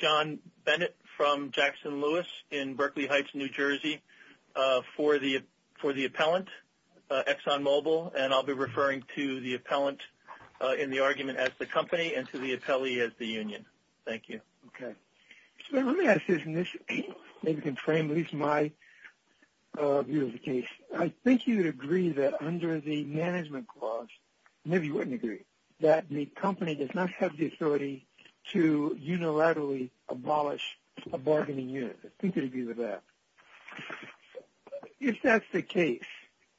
John Bennett from Jackson-Lewis in Berkeley Heights, New Jersey, for the appellant, Exxon Mobil, and I'll be referring to the appellant in the argument as the company and to the appellee as the union. Thank you. Okay. So let me ask this, and this maybe can frame at least my view of the case. I think you would agree that under the management clause, maybe you wouldn't agree, that the company does not have the authority to unilaterally abolish a bargaining unit. I think you'd agree with that. If that's the case,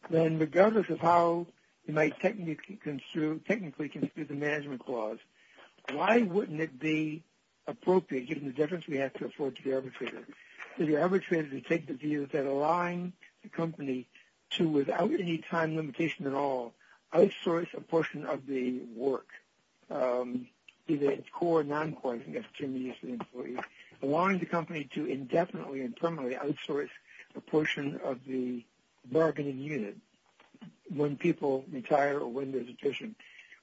then regardless of how you might technically construe the management clause, why wouldn't it be appropriate, given the difference we have to afford to the arbitrator, for the arbitrator to take the view that allowing the company to, without any time limitation at all, outsource a portion of the work, either at core or non-core, I think that's the term you used for the employee, allowing the company to indefinitely and permanently outsource a portion of the bargaining unit when people retire or when there's a petition.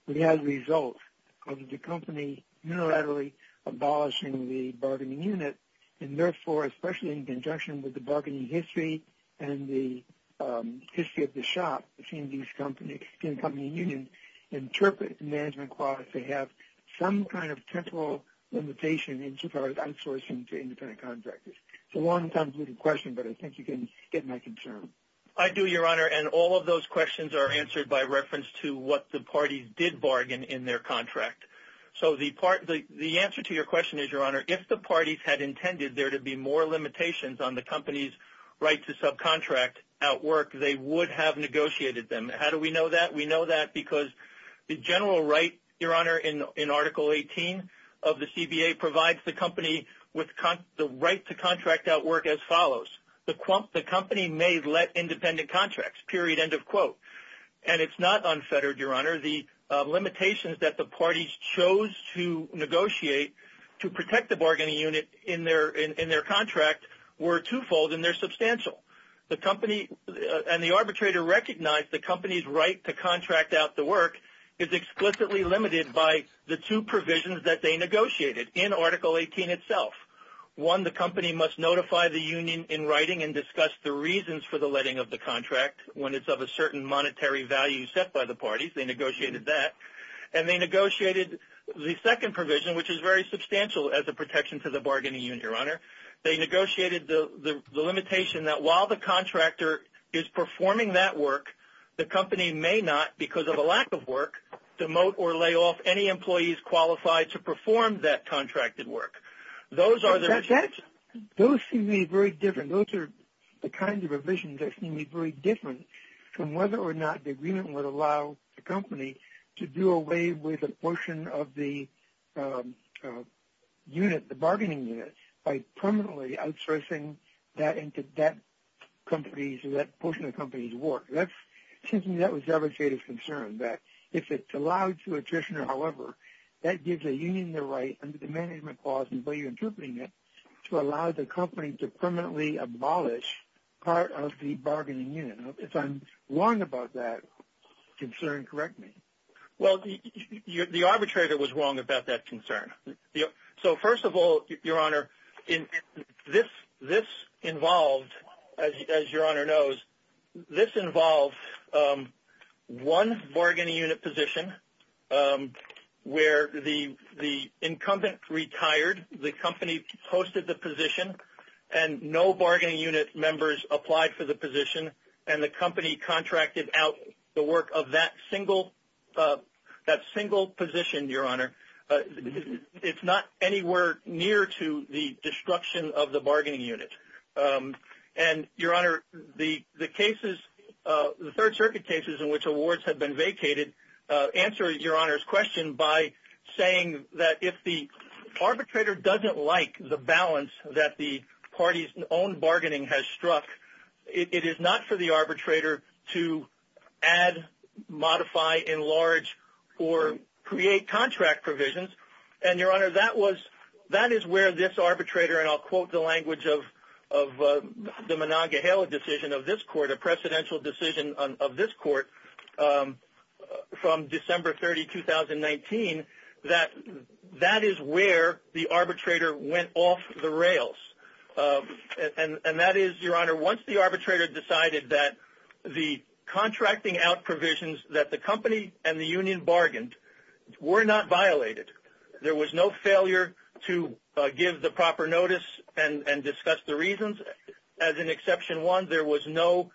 We have results of the company unilaterally abolishing the bargaining unit, and therefore, especially in conjunction with the bargaining history and the history of the shop, seeing these company unions interpret the management clause to have some kind of temporal limitation in regards to outsourcing to independent contractors. It's a long-term question, but I think you can get my concern. I do, Your Honor. All of those questions are answered by reference to what the parties did bargain in their contract. The answer to your question is, Your Honor, if the parties had intended there to be more limitations on the company's right to subcontract at work, they would have negotiated them. How do we know that? We know that because the general right, Your Honor, in Article 18 of the CBA, provides the company with the right to contract at work as follows. The company may let independent contracts, period, end of quote. And it's not unfettered, Your Honor. The limitations that the parties chose to negotiate to protect the bargaining unit in their contract were twofold, and they're substantial. The company and the arbitrator recognized the company's right to contract out the work is explicitly limited by the two provisions that they negotiated in Article 18 itself. One, the company must notify the union in writing and discuss the reasons for the letting of the contract when it's of a certain monetary value set by the parties. They negotiated that. And they negotiated the second provision, which is very substantial as a protection to the bargaining unit, Your Honor. They negotiated the limitation that while the contractor is performing that work, the company may not, because of a lack of work, demote or lay off any employees qualified to perform that contracted work. Those are the... That's... Those seem to be very different. Those are the kinds of revisions that seem to be very different from whether or not the agreement would allow the company to do away with a portion of the unit, the bargaining unit, by permanently outsourcing that into that company's, or that portion of the company's work. That's... It seems to me that was a devastating concern, that if it's allowed to a traditioner, however, that gives a union the right, under the management clause and the way you're interpreting it, to allow the company to permanently abolish part of the bargaining unit. If I'm wrong about that concern, correct me. Well, the arbitrator was wrong about that concern. So first of all, Your Honor, this involved, as Your Honor knows, this involved one bargaining unit position where the incumbent retired, the company posted the position, and no bargaining unit members applied for the position, and the company contracted out the work of that single... That single position, Your Honor. It's not anywhere near to the destruction of the bargaining unit. And, Your Honor, the cases, the Third Circuit cases in which awards had been vacated, answer Your Honor's question by saying that if the arbitrator doesn't like the balance that the party's own bargaining has struck, it is not for the arbitrator to add, modify, enlarge, or create contract provisions. And, Your Honor, that is where this arbitrator, and I'll quote the language of the Monongahela decision of this court, a presidential decision of this court from December 30, 2019, that is where the arbitrator went off the rails. And that is, Your Honor, once the arbitrator decided that the contracting out provisions that the company and the union bargained were not violated, there was no failure to give the proper notice and discuss the reasons, as in Exception 1, there was no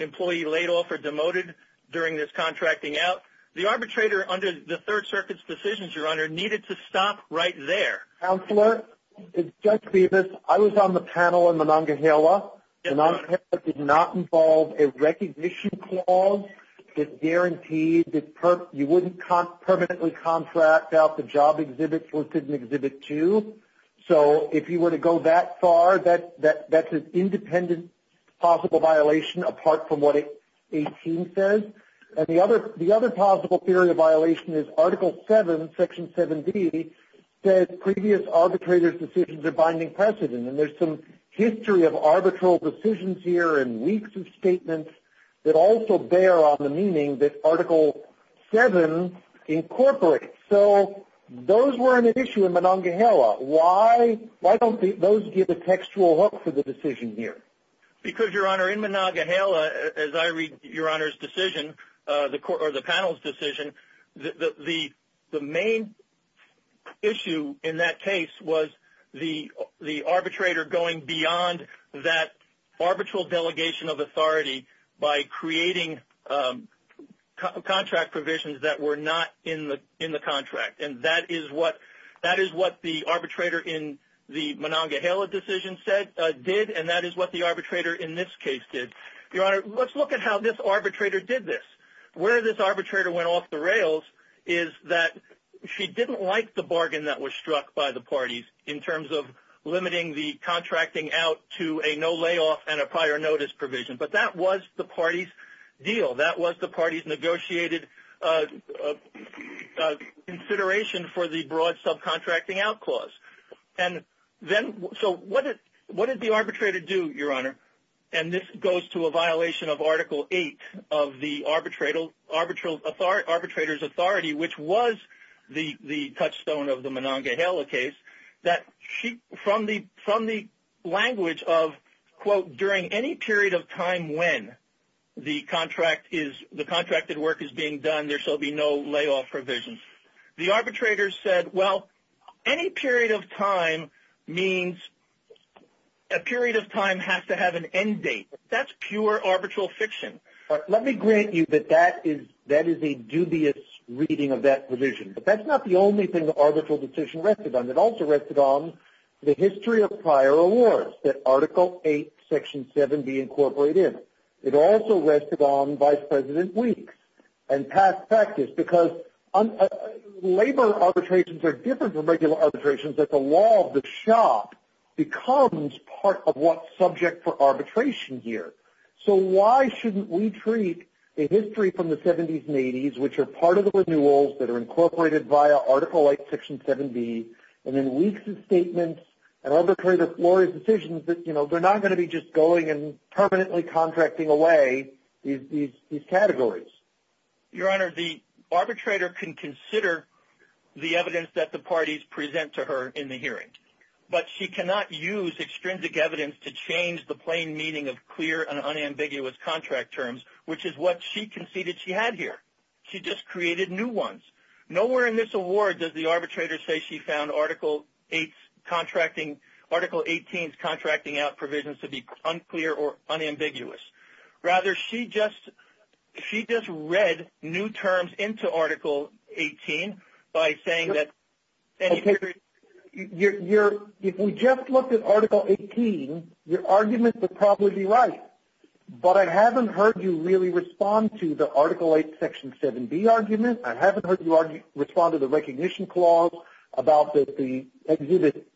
employee laid off or demoted during this contracting out, the arbitrator, under the Third Circuit's decisions, Your Honor, needed to stop right there. Counselor, Judge Bevis, I was on the panel in Monongahela, and Monongahela did not involve a recognition clause that guaranteed that you wouldn't permanently contract out the job exhibits listed in Exhibit 2. So, if you were to go that far, that's an independent possible violation apart from what 18 says. And the other possible theory of violation is Article 7, Section 7B, says previous arbitrators' decisions are binding precedent. And there's some history of arbitral decisions here and weeks of statements that also bear on the meaning that Article 7 incorporates. So, those weren't an issue in Monongahela. Why don't those give a textual hook for the decision here? Because Your Honor, in Monongahela, as I read Your Honor's decision, or the panel's decision, the main issue in that case was the arbitrator going beyond that arbitral delegation of authority by creating contract provisions that were not in the contract. And that is what the arbitrator in the Monongahela decision did, and that is what the arbitrator in this case did. Your Honor, let's look at how this arbitrator did this. Where this arbitrator went off the rails is that she didn't like the bargain that was struck by the parties in terms of limiting the contracting out to a no layoff and a prior notice provision. But that was the party's deal. That was the party's negotiated consideration for the broad subcontracting out clause. And then, so what did the arbitrator do, Your Honor? And this goes to a violation of Article 8 of the arbitrator's authority, which was the touchstone of the Monongahela case, that from the language of, quote, during any period of time when the contracted work is being done, there shall be no layoff provisions. The arbitrator said, well, any period of time means a period of time has to have an end date. That's pure arbitral fiction. Let me grant you that that is a dubious reading of that provision, but that's not the only thing the arbitral decision rested on. It also rested on the history of prior awards that Article 8, Section 7b incorporate in. It also rested on Vice President Weeks and past practice, because labor arbitrations are different from regular arbitrations, but the law of the shop becomes part of what's subject for arbitration here. So why shouldn't we treat a history from the 70s and 80s, which are part of the renewals that are incorporated via Article 8, Section 7b, and then Weeks' statements and other arbitrary decisions that, you know, they're not going to be just going and permanently contracting away these categories? Your Honor, the arbitrator can consider the evidence that the parties present to her in the hearing, but she cannot use extrinsic evidence to change the plain meaning of clear and unambiguous contract terms, which is what she conceded she had here. She just created new ones. Nowhere in this award does the arbitrator say she found Article 8's contracting – Article 18's contracting out provisions to be unclear or unambiguous. Rather, she just – she just read new terms into Article 18 by saying that – Okay. Your – if we just looked at Article 18, your argument would probably be right. But I haven't heard you really respond to the Article 8, Section 7b argument. I haven't heard you respond to the recognition clause about the Exhibit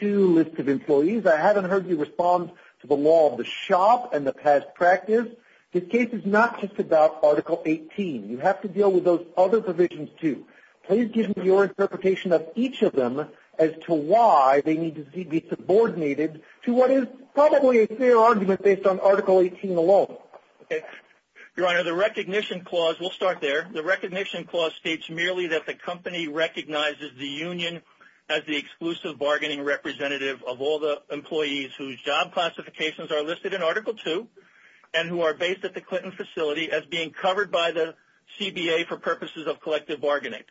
2 list of employees. I haven't heard you respond to the law of the shop and the past practice. This case is not just about Article 18. You have to deal with those other provisions, too. Please give me your interpretation of each of them as to why they need to be subordinated to what is probably a fair argument based on Article 18 alone. Okay. Your Honor, the recognition clause – we'll start there. The recognition clause states merely that the company recognizes the union as the exclusive bargaining representative of all the employees whose job classifications are listed in Article 2 and who are based at the Clinton facility as being covered by the CBA for purposes of collective bargaining.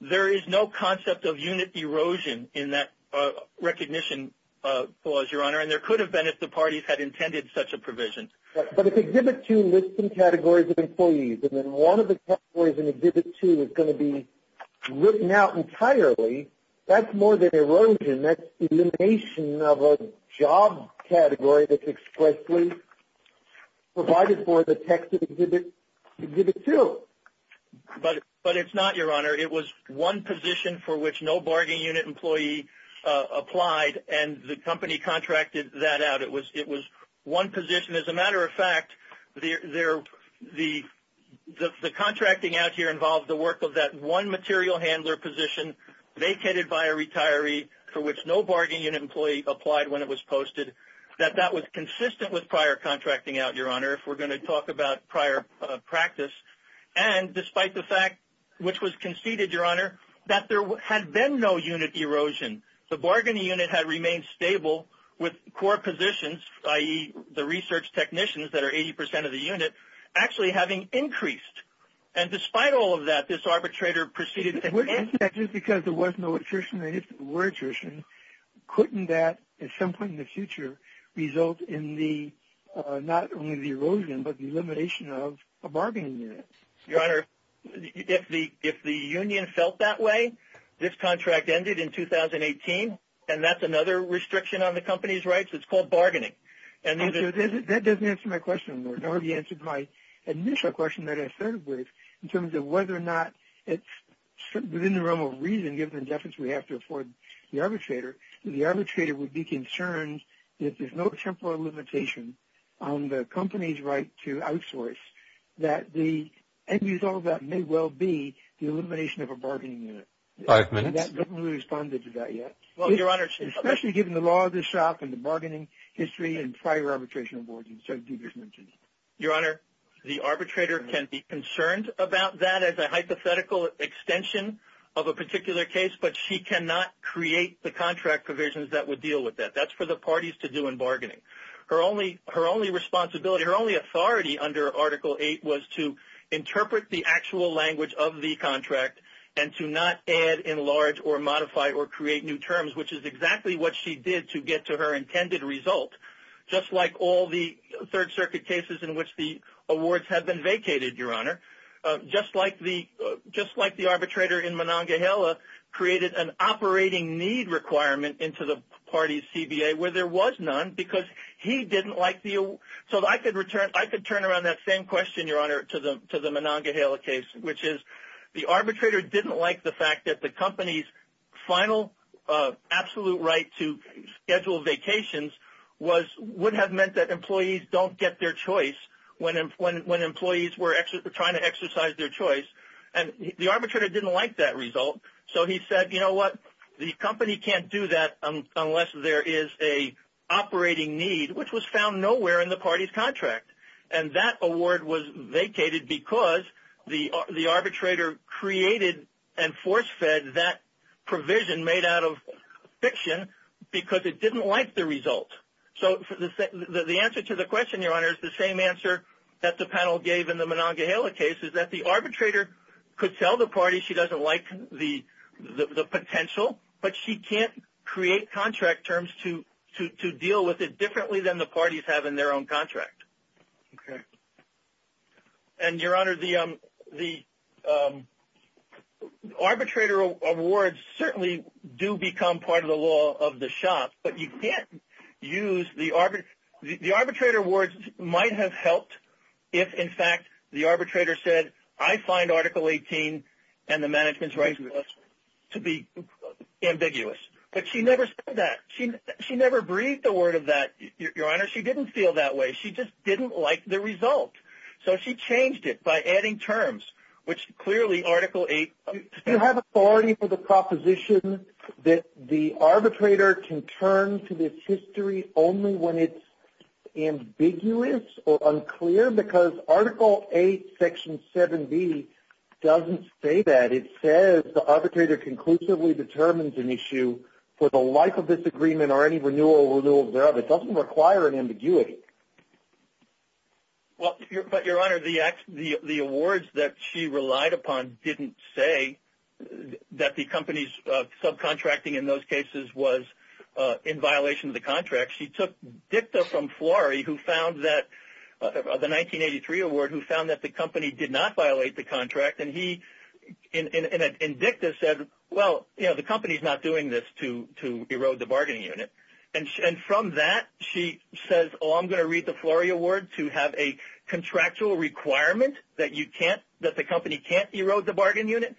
There is no concept of unit erosion in that recognition clause, your Honor, and there could have been if the parties had intended such a provision. But if Exhibit 2 lists some categories of employees and then one of the categories in Exhibit 2 is going to be written out entirely, that's more than erosion. That's elimination of a job category that's expressly provided for in the text of Exhibit 2. But it's not, your Honor. It was one position for which no bargaining unit employee applied and the company contracted that out. It was one position. As a matter of fact, the contracting out here involved the work of that one material handler position vacated by a retiree for which no bargaining unit employee applied when it was posted, that that was consistent with prior contracting out, your Honor, if we're going to talk about prior practice. And despite the fact which was conceded, your Honor, that there had been no unit erosion. The bargaining unit had remained stable with core positions, i.e., the research technicians that are 80% of the unit, actually having increased. And despite all of that, this arbitrator proceeded to end it. And just because there was no attrition and there were attrition, couldn't that, at some point in the future, result in the, not only the erosion, but the elimination of a bargaining unit? Your Honor, if the union felt that way, this contract ended in 2018 and that's another restriction on the company's rights. It's called bargaining. And then... That doesn't answer my question, Lord. It already answered my initial question that I started with in terms of whether or not it's, within the realm of reason, given the deference we have to afford the arbitrator, the arbitrator would be concerned that there's no temporal limitation on the company's right to outsource, that the end result of that may well be the elimination of a bargaining unit. Five minutes. I haven't really responded to that yet. Well, your Honor... Especially given the law of the shop and the bargaining history and prior arbitration awards and so forth. Your Honor, the arbitrator can be concerned about that as a hypothetical extension of a particular case, but she cannot create the contract provisions that would deal with that. That's for the parties to do in bargaining. Her only responsibility, her only authority under Article VIII was to interpret the actual language of the contract and to not add, enlarge, or modify or create new terms, which is exactly what she did to get to her intended result. Just like all the Third Circuit cases in which the awards have been vacated, Your Honor. Just like the arbitrator in Monongahela created an operating need requirement into the party's he didn't like the... So I could turn around that same question, Your Honor, to the Monongahela case, which is the arbitrator didn't like the fact that the company's final absolute right to schedule vacations would have meant that employees don't get their choice when employees were trying to exercise their choice. And the arbitrator didn't like that result, so he said, you know what? The company can't do that unless there is a operating need, which was found nowhere in the party's contract. And that award was vacated because the arbitrator created and force-fed that provision made out of fiction because it didn't like the result. So the answer to the question, Your Honor, is the same answer that the panel gave in the Monongahela case, is that the arbitrator could tell the party she doesn't like the potential, but she can't create contract terms to deal with it differently than the parties have in their own contract. And Your Honor, the arbitrator awards certainly do become part of the law of the shop, but you can't use the... The arbitrator awards might have helped if, in fact, the arbitrator said, I find Article 18 and the management's right to be ambiguous. But she never said that. She never breathed a word of that, Your Honor. She didn't feel that way. She just didn't like the result. So she changed it by adding terms, which clearly Article 8... Do you have authority for the proposition that the arbitrator can turn to this history only when it's ambiguous or unclear? Because Article 8, Section 7B doesn't say that. It says the arbitrator conclusively determines an issue for the life of this agreement or any renewal or renewal thereof. It doesn't require an ambiguity. Well, but Your Honor, the awards that she relied upon didn't say that the company's subcontracting in those cases was in violation of the contract. She took dicta from Flory, who found that... The 1983 award, who found that the company did not violate the contract. And he, in dicta, said, well, you know, the company's not doing this to erode the bargaining unit. And from that, she says, oh, I'm going to read the Flory award to have a contractual requirement that you can't... That the company can't erode the bargaining unit.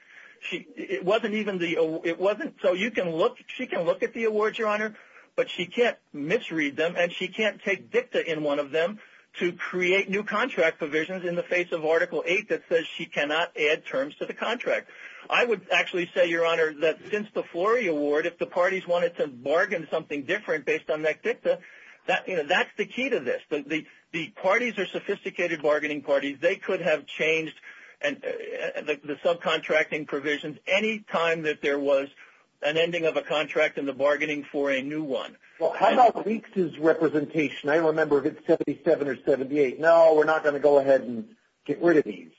It wasn't even the... It wasn't... So you can look... She can look at the awards, Your Honor, but she can't misread them and she can't take dicta in one of them to create new contract provisions in the face of Article 8 that says she cannot add terms to the contract. I would actually say, Your Honor, that since the Flory award, if the parties wanted to bargain something different based on that dicta, that's the key to this. The parties are sophisticated bargaining parties. They could have changed the subcontracting provisions any time that there was an ending of a contract in the bargaining for a new one. Well, how about Weeks's representation? I remember if it's 77 or 78. No, we're not going to go ahead and get rid of these.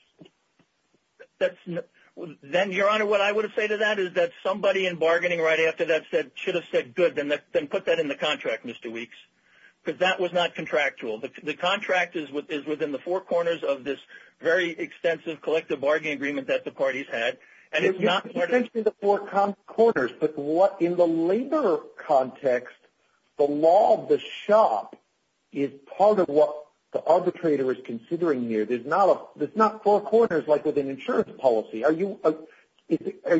Then Your Honor, what I would have said to that is that somebody in bargaining right after that should have said, good, then put that in the contract, Mr. Weeks, because that was not contractual. The contract is within the four corners of this very extensive collective bargaining agreement that the parties had, and it's not part of... You mentioned the four corners, but in the labor context, the law of the shop is part of what the arbitrator is considering here. There's not four corners like with an insurance policy. Are you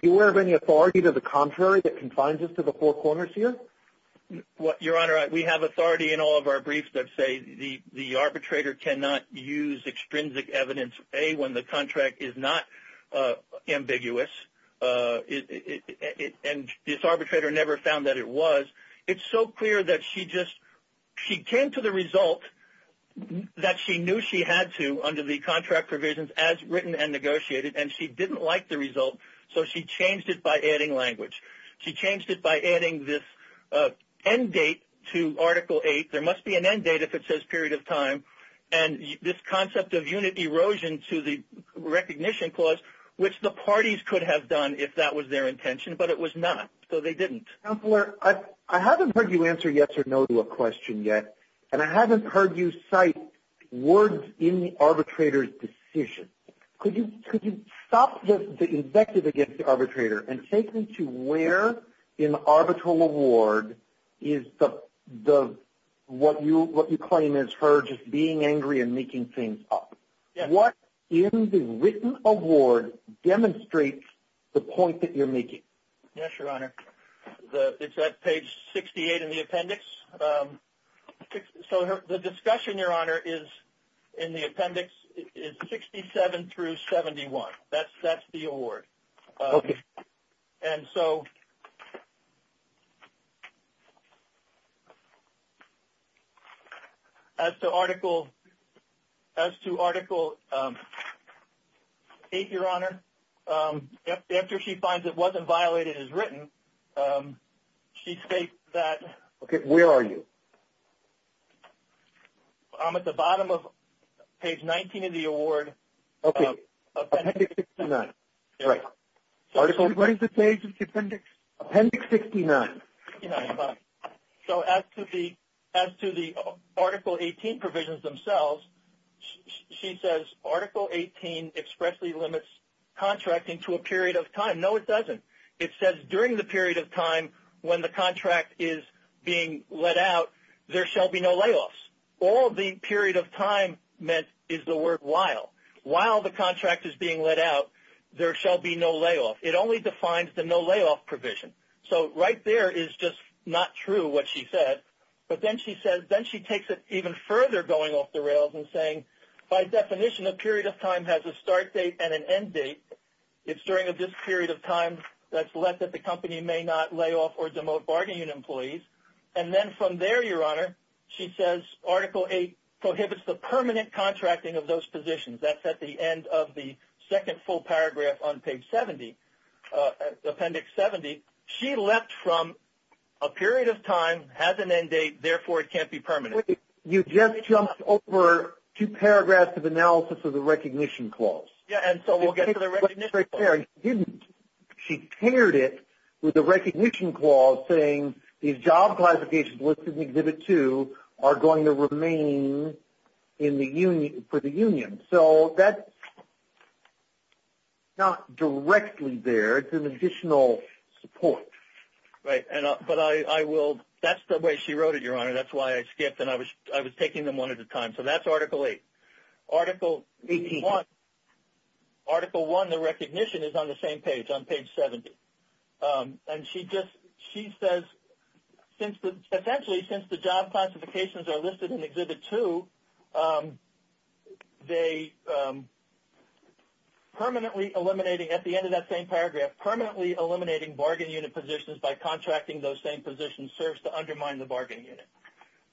aware of any authority to the contrary that confines us to the four corners here? Your Honor, we have authority in all of our briefs that say the arbitrator cannot use extrinsic evidence, A, when the contract is not ambiguous, and this arbitrator never found that it was. It's so clear that she just... She came to the result that she knew she had to under the contract provisions as written and negotiated, and she didn't like the result, so she changed it by adding language. She changed it by adding this end date to Article 8. There must be an end date if it says period of time, and this concept of unit erosion to the recognition clause, which the parties could have done if that was their intention, but it was not, so they didn't. Counselor, I haven't heard you answer yes or no to a question yet, and I haven't heard you cite words in the arbitrator's decision. Could you stop the invective against the arbitrator and take me to where in the arbitral award is what you claim is her just being angry and making things up. What in the written award demonstrates the point that you're making? Yes, Your Honor. It's at page 68 in the appendix. So, the discussion, Your Honor, in the appendix is 67 through 71. That's the award, and so as to Article 8, Your Honor, after she finds it wasn't violated as it is written, she states that... Okay, where are you? I'm at the bottom of page 19 of the award. Okay, appendix 69. Right. What is the page of the appendix? Appendix 69. So, as to the Article 18 provisions themselves, she says Article 18 expressly limits contracting to a period of time. No, it doesn't. It says during the period of time when the contract is being let out, there shall be no layoffs. All the period of time meant is the word while. While the contract is being let out, there shall be no layoff. It only defines the no layoff provision. So, right there is just not true what she said, but then she takes it even further going off the rails and saying, by definition, a period of time has a start date and an end date. It's during this period of time that's left that the company may not layoff or demote bargaining employees. And then from there, Your Honor, she says Article 8 prohibits the permanent contracting of those positions. That's at the end of the second full paragraph on page 70, appendix 70. She left from a period of time has an end date, therefore it can't be permanent. You just jumped over two paragraphs of analysis of the recognition clause. Yeah, and so we'll get to the recognition clause. She didn't. She paired it with the recognition clause saying these job classifications listed in Exhibit 2 are going to remain for the union. So that's not directly there, it's an additional support. Right, but I will, that's the way she wrote it, Your Honor. That's why I skipped and I was taking them one at a time. So that's Article 8. Article 1, the recognition is on the same page, on page 70. And she just, she says essentially since the job classifications are listed in Exhibit 2, they permanently eliminating, at the end of that same paragraph, permanently eliminating bargain unit positions by contracting those same positions serves to undermine the bargain unit.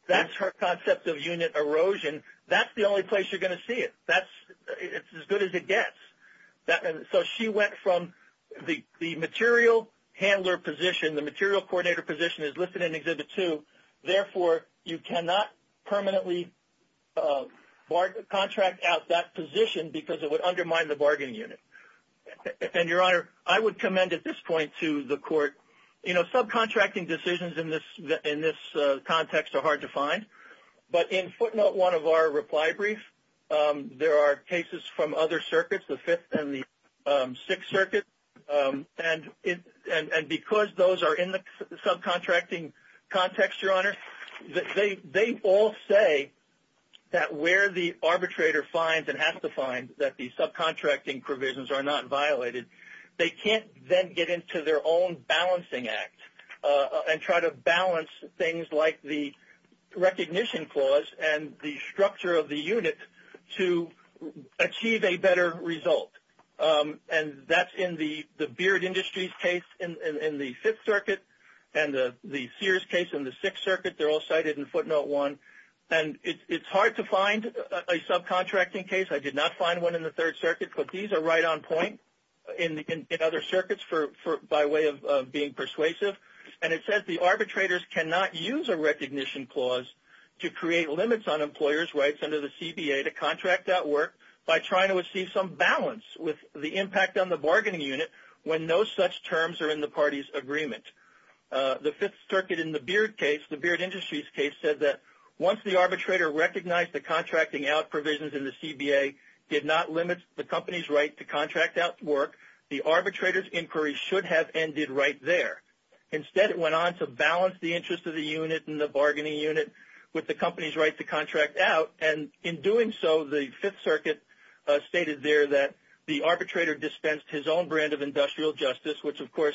That's her concept of unit erosion. That's the only place you're going to see it. That's, it's as good as it gets. So she went from the material handler position, the material coordinator position is listed in Exhibit 2, therefore you cannot permanently contract out that position because it would undermine the bargain unit. And Your Honor, I would commend at this point to the court, you know, subcontracting decisions in this context are hard to find. But in footnote 1 of our reply brief, there are cases from other circuits, the Fifth and the Sixth Circuit, and because those are in the subcontracting context, Your Honor, they all say that where the arbitrator finds and has to find that the subcontracting provisions are not violated, they can't then get into their own balancing act and try to balance things like the recognition clause and the structure of the unit to achieve a better result. And that's in the Beard Industries case in the Fifth Circuit and the Sears case in the Sixth Circuit. They're all cited in footnote 1. And it's hard to find a subcontracting case. I did not find one in the Third Circuit, but these are right on point in other circuits for, by way of being persuasive. And it says the arbitrators cannot use a recognition clause to create limits on employers' rights under the CBA to contract out work by trying to achieve some balance with the impact on the bargaining unit when no such terms are in the party's agreement. The Fifth Circuit in the Beard case, the Beard Industries case, said that once the arbitrator recognized the contracting out provisions in the CBA did not limit the company's right to contract out work, the arbitrator's inquiry should have ended right there. Instead, it went on to balance the interest of the unit and the bargaining unit with the company's right to contract out. And in doing so, the Fifth Circuit stated there that the arbitrator dispensed his own brand of industrial justice, which, of course,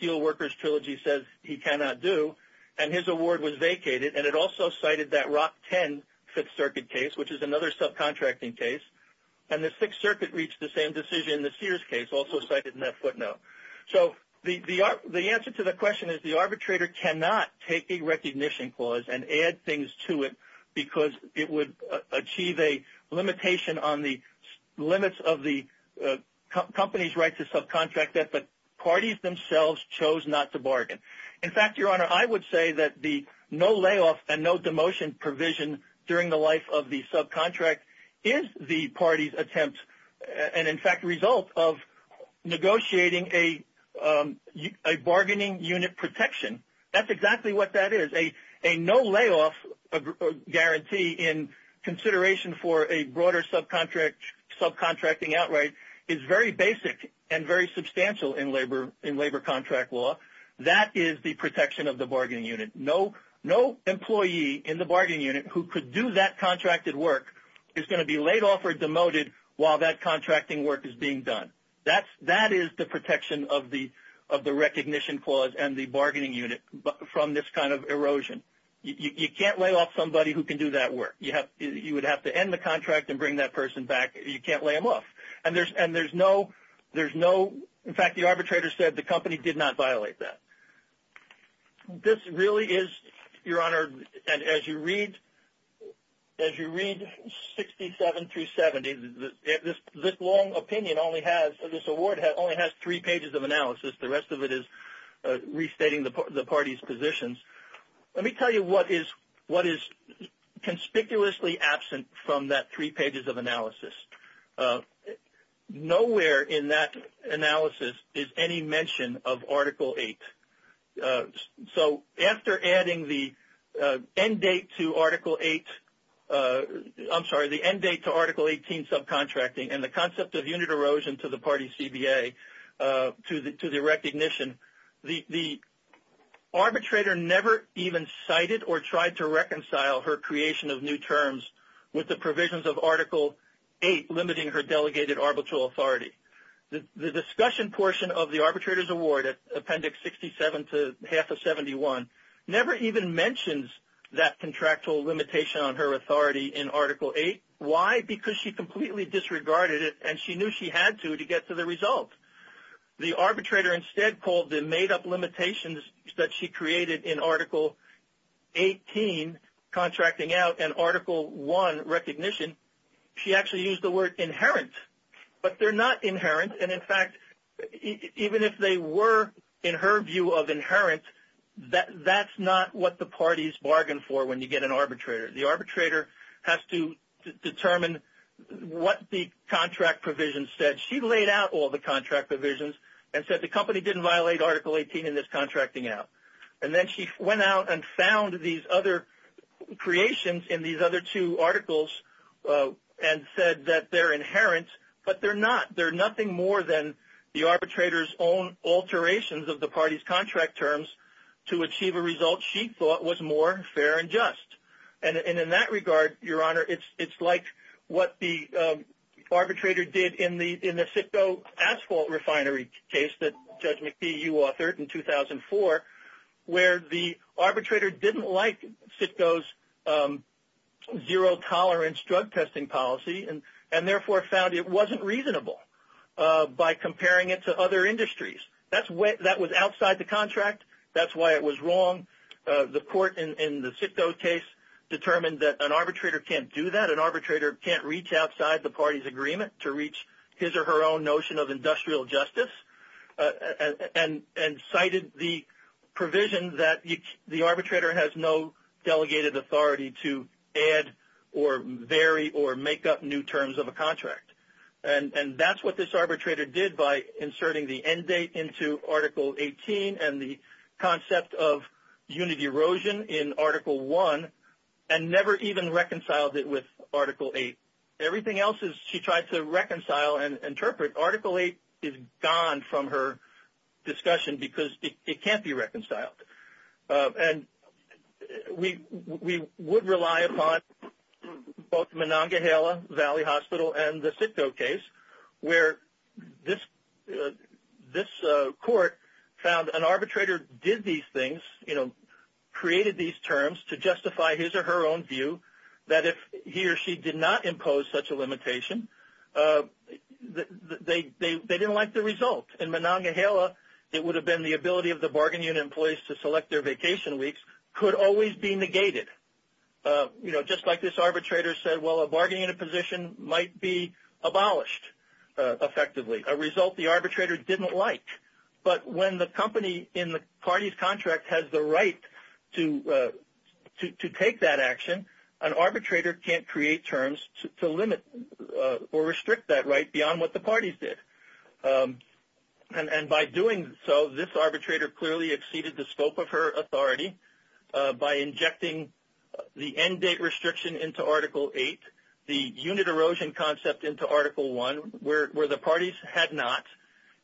Steelworkers Trilogy says he cannot do. And his award was vacated. And it also cited that Rock 10 Fifth Circuit case, which is another subcontracting case. And the Sixth Circuit reached the same decision in the Sears case, also cited in that footnote. So the answer to the question is the arbitrator cannot take a recognition clause and add things to it because it would achieve a limitation on the limits of the company's right to subcontract that the parties themselves chose not to bargain. In fact, Your Honor, I would say that the no layoff and no demotion provision during the life of the subcontract is the party's attempt and, in fact, result of negotiating a bargaining unit protection. That's exactly what that is. A no layoff guarantee in consideration for a broader subcontracting outright is very basic and very substantial in labor contract law. That is the protection of the bargaining unit. No employee in the bargaining unit who could do that contracted work is going to be laid off or demoted while that contracting work is being done. That is the protection of the recognition clause and the bargaining unit from this kind of erosion. You can't lay off somebody who can do that work. You would have to end the contract and bring that person back. You can't lay them off. And there's no, in fact, the arbitrator said the company did not violate that. This really is, Your Honor, as you read 67 through 70, this long opinion only has, this award only has three pages of analysis. The rest of it is restating the party's positions. Let me tell you what is conspicuously absent from that three pages of analysis. Nowhere in that analysis is any mention of Article 8. So after adding the end date to Article 8, I'm sorry, the end date to Article 18 subcontracting and the concept of unit erosion to the party CBA to the recognition, the arbitrator never even cited or tried to reconcile her creation of new terms with the provisions of Article 8 limiting her delegated arbitral authority. The discussion portion of the arbitrator's award, Appendix 67 to half of 71, never even mentions that contractual limitation on her authority in Article 8. Why? Because she completely disregarded it and she knew she had to to get to the result. The arbitrator instead called the made-up limitations that she created in Article 18 subcontracting out and Article 1 recognition, she actually used the word inherent. But they're not inherent and in fact, even if they were in her view of inherent, that's not what the parties bargain for when you get an arbitrator. The arbitrator has to determine what the contract provisions said. She laid out all the contract provisions and said the company didn't violate Article 18 in this contracting out. And then she went out and found these other creations in these other two articles and said that they're inherent, but they're not. They're nothing more than the arbitrator's own alterations of the party's contract terms to achieve a result she thought was more fair and just. And in that regard, Your Honor, it's like what the arbitrator did in the FITCO asphalt refinery case that Judge McPhee, you authored in 2004, where the arbitrator didn't like FITCO's zero-tolerance drug testing policy and therefore found it wasn't reasonable by comparing it to other industries. That was outside the contract. That's why it was wrong. The court in the FITCO case determined that an arbitrator can't do that. An arbitrator can't reach outside the party's agreement to reach his or her own notion of industrial justice and cited the provision that the arbitrator has no delegated authority to add or vary or make up new terms of a contract. And that's what this arbitrator did by inserting the end date into Article 18 and the concept of unit erosion in Article 1 and never even reconciled it with Article 8. Everything else she tried to reconcile and interpret. Article 8 is gone from her discussion because it can't be reconciled. And we would rely upon both Monongahela Valley Hospital and the FITCO case where this court found an arbitrator did these things, you know, created these terms to justify his or her own view that if he or she did not impose such a limitation, they didn't like the result. In Monongahela, it would have been the ability of the bargaining unit employees to select their vacation weeks could always be negated. You know, just like this arbitrator said, well, a bargaining unit position might be abolished effectively, a result the arbitrator didn't like. But when the company in the party's contract has the right to take that action, an arbitrator can't create terms to limit or restrict that right beyond what the parties did. And by doing so, this arbitrator clearly exceeded the scope of her authority by injecting the end date restriction into Article 8, the unit erosion concept into Article 1 where the parties had not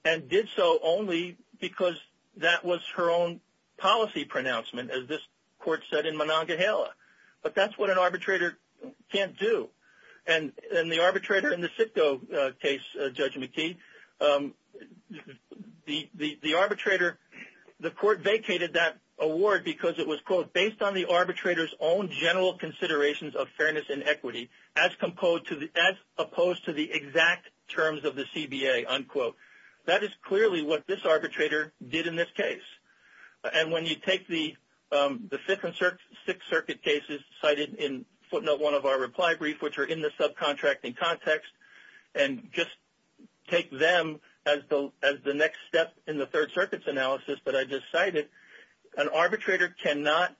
and did so only because that was her own policy pronouncement, as this court said in Monongahela. But that's what an arbitrator can't do. And the arbitrator in the FITCO case, Judge McKee, the arbitrator, the court vacated that award because it was, quote, based on the arbitrator's own general considerations of the CBA, unquote. That is clearly what this arbitrator did in this case. And when you take the Fifth and Sixth Circuit cases cited in footnote 1 of our reply brief, which are in the subcontracting context, and just take them as the next step in the Third Circuit's analysis that I just cited, an arbitrator cannot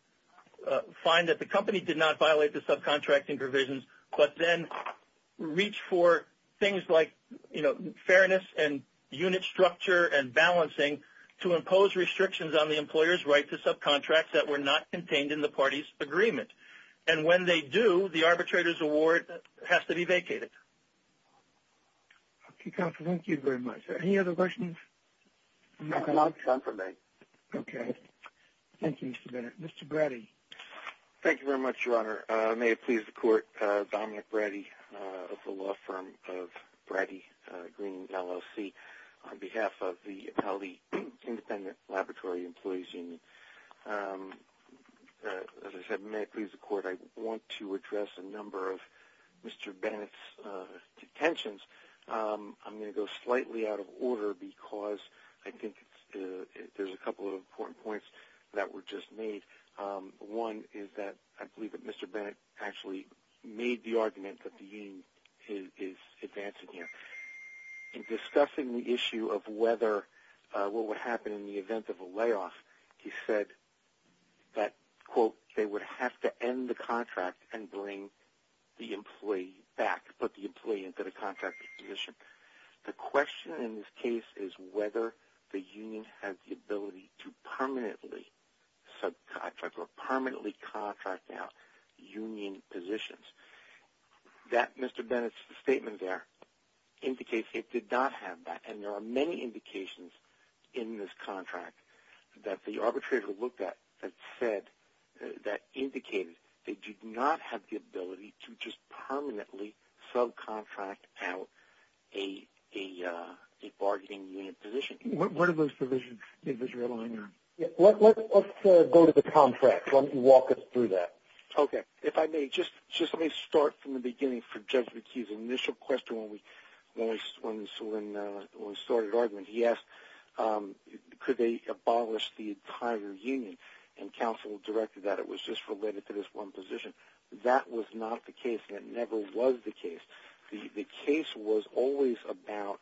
find that the company did not violate the subcontracting provisions, but then reach for things like, you know, fairness and unit structure and balancing to impose restrictions on the employer's right to subcontracts that were not contained in the party's agreement. And when they do, the arbitrator's award has to be vacated. Okay, counsel, thank you very much. Any other questions? No, that's all I have time for today. Okay. Thank you, Mr. Bennett. Mr. Bratty. Thank you very much, Your Honor. May it please the Court, Dominic Bratty of the law firm of Bratty Green, LLC, on behalf of the Appellee Independent Laboratory Employees Union. As I said, may it please the Court, I want to address a number of Mr. Bennett's intentions. I'm going to go slightly out of order because I think there's a couple of important points that were just made. One is that I believe that Mr. Bennett actually made the argument that the union is advancing here. In discussing the issue of whether what would happen in the event of a layoff, he said that, quote, they would have to end the contract and bring the employee back, put the employee into the contracting position. The question in this case is whether the union has the ability to permanently subcontract or permanently contract out union positions. That, Mr. Bennett's statement there, indicates it did not have that. And there are many indications in this contract that the arbitrator looked at that said, that a bargaining unit position. What are those provisions? Let's go to the contract. Walk us through that. Okay. If I may, just let me start from the beginning for Judge McHugh's initial question when we started arguing. He asked, could they abolish the entire union? And counsel directed that it was just related to this one position. That was not the case, and it never was the case. The case was always about,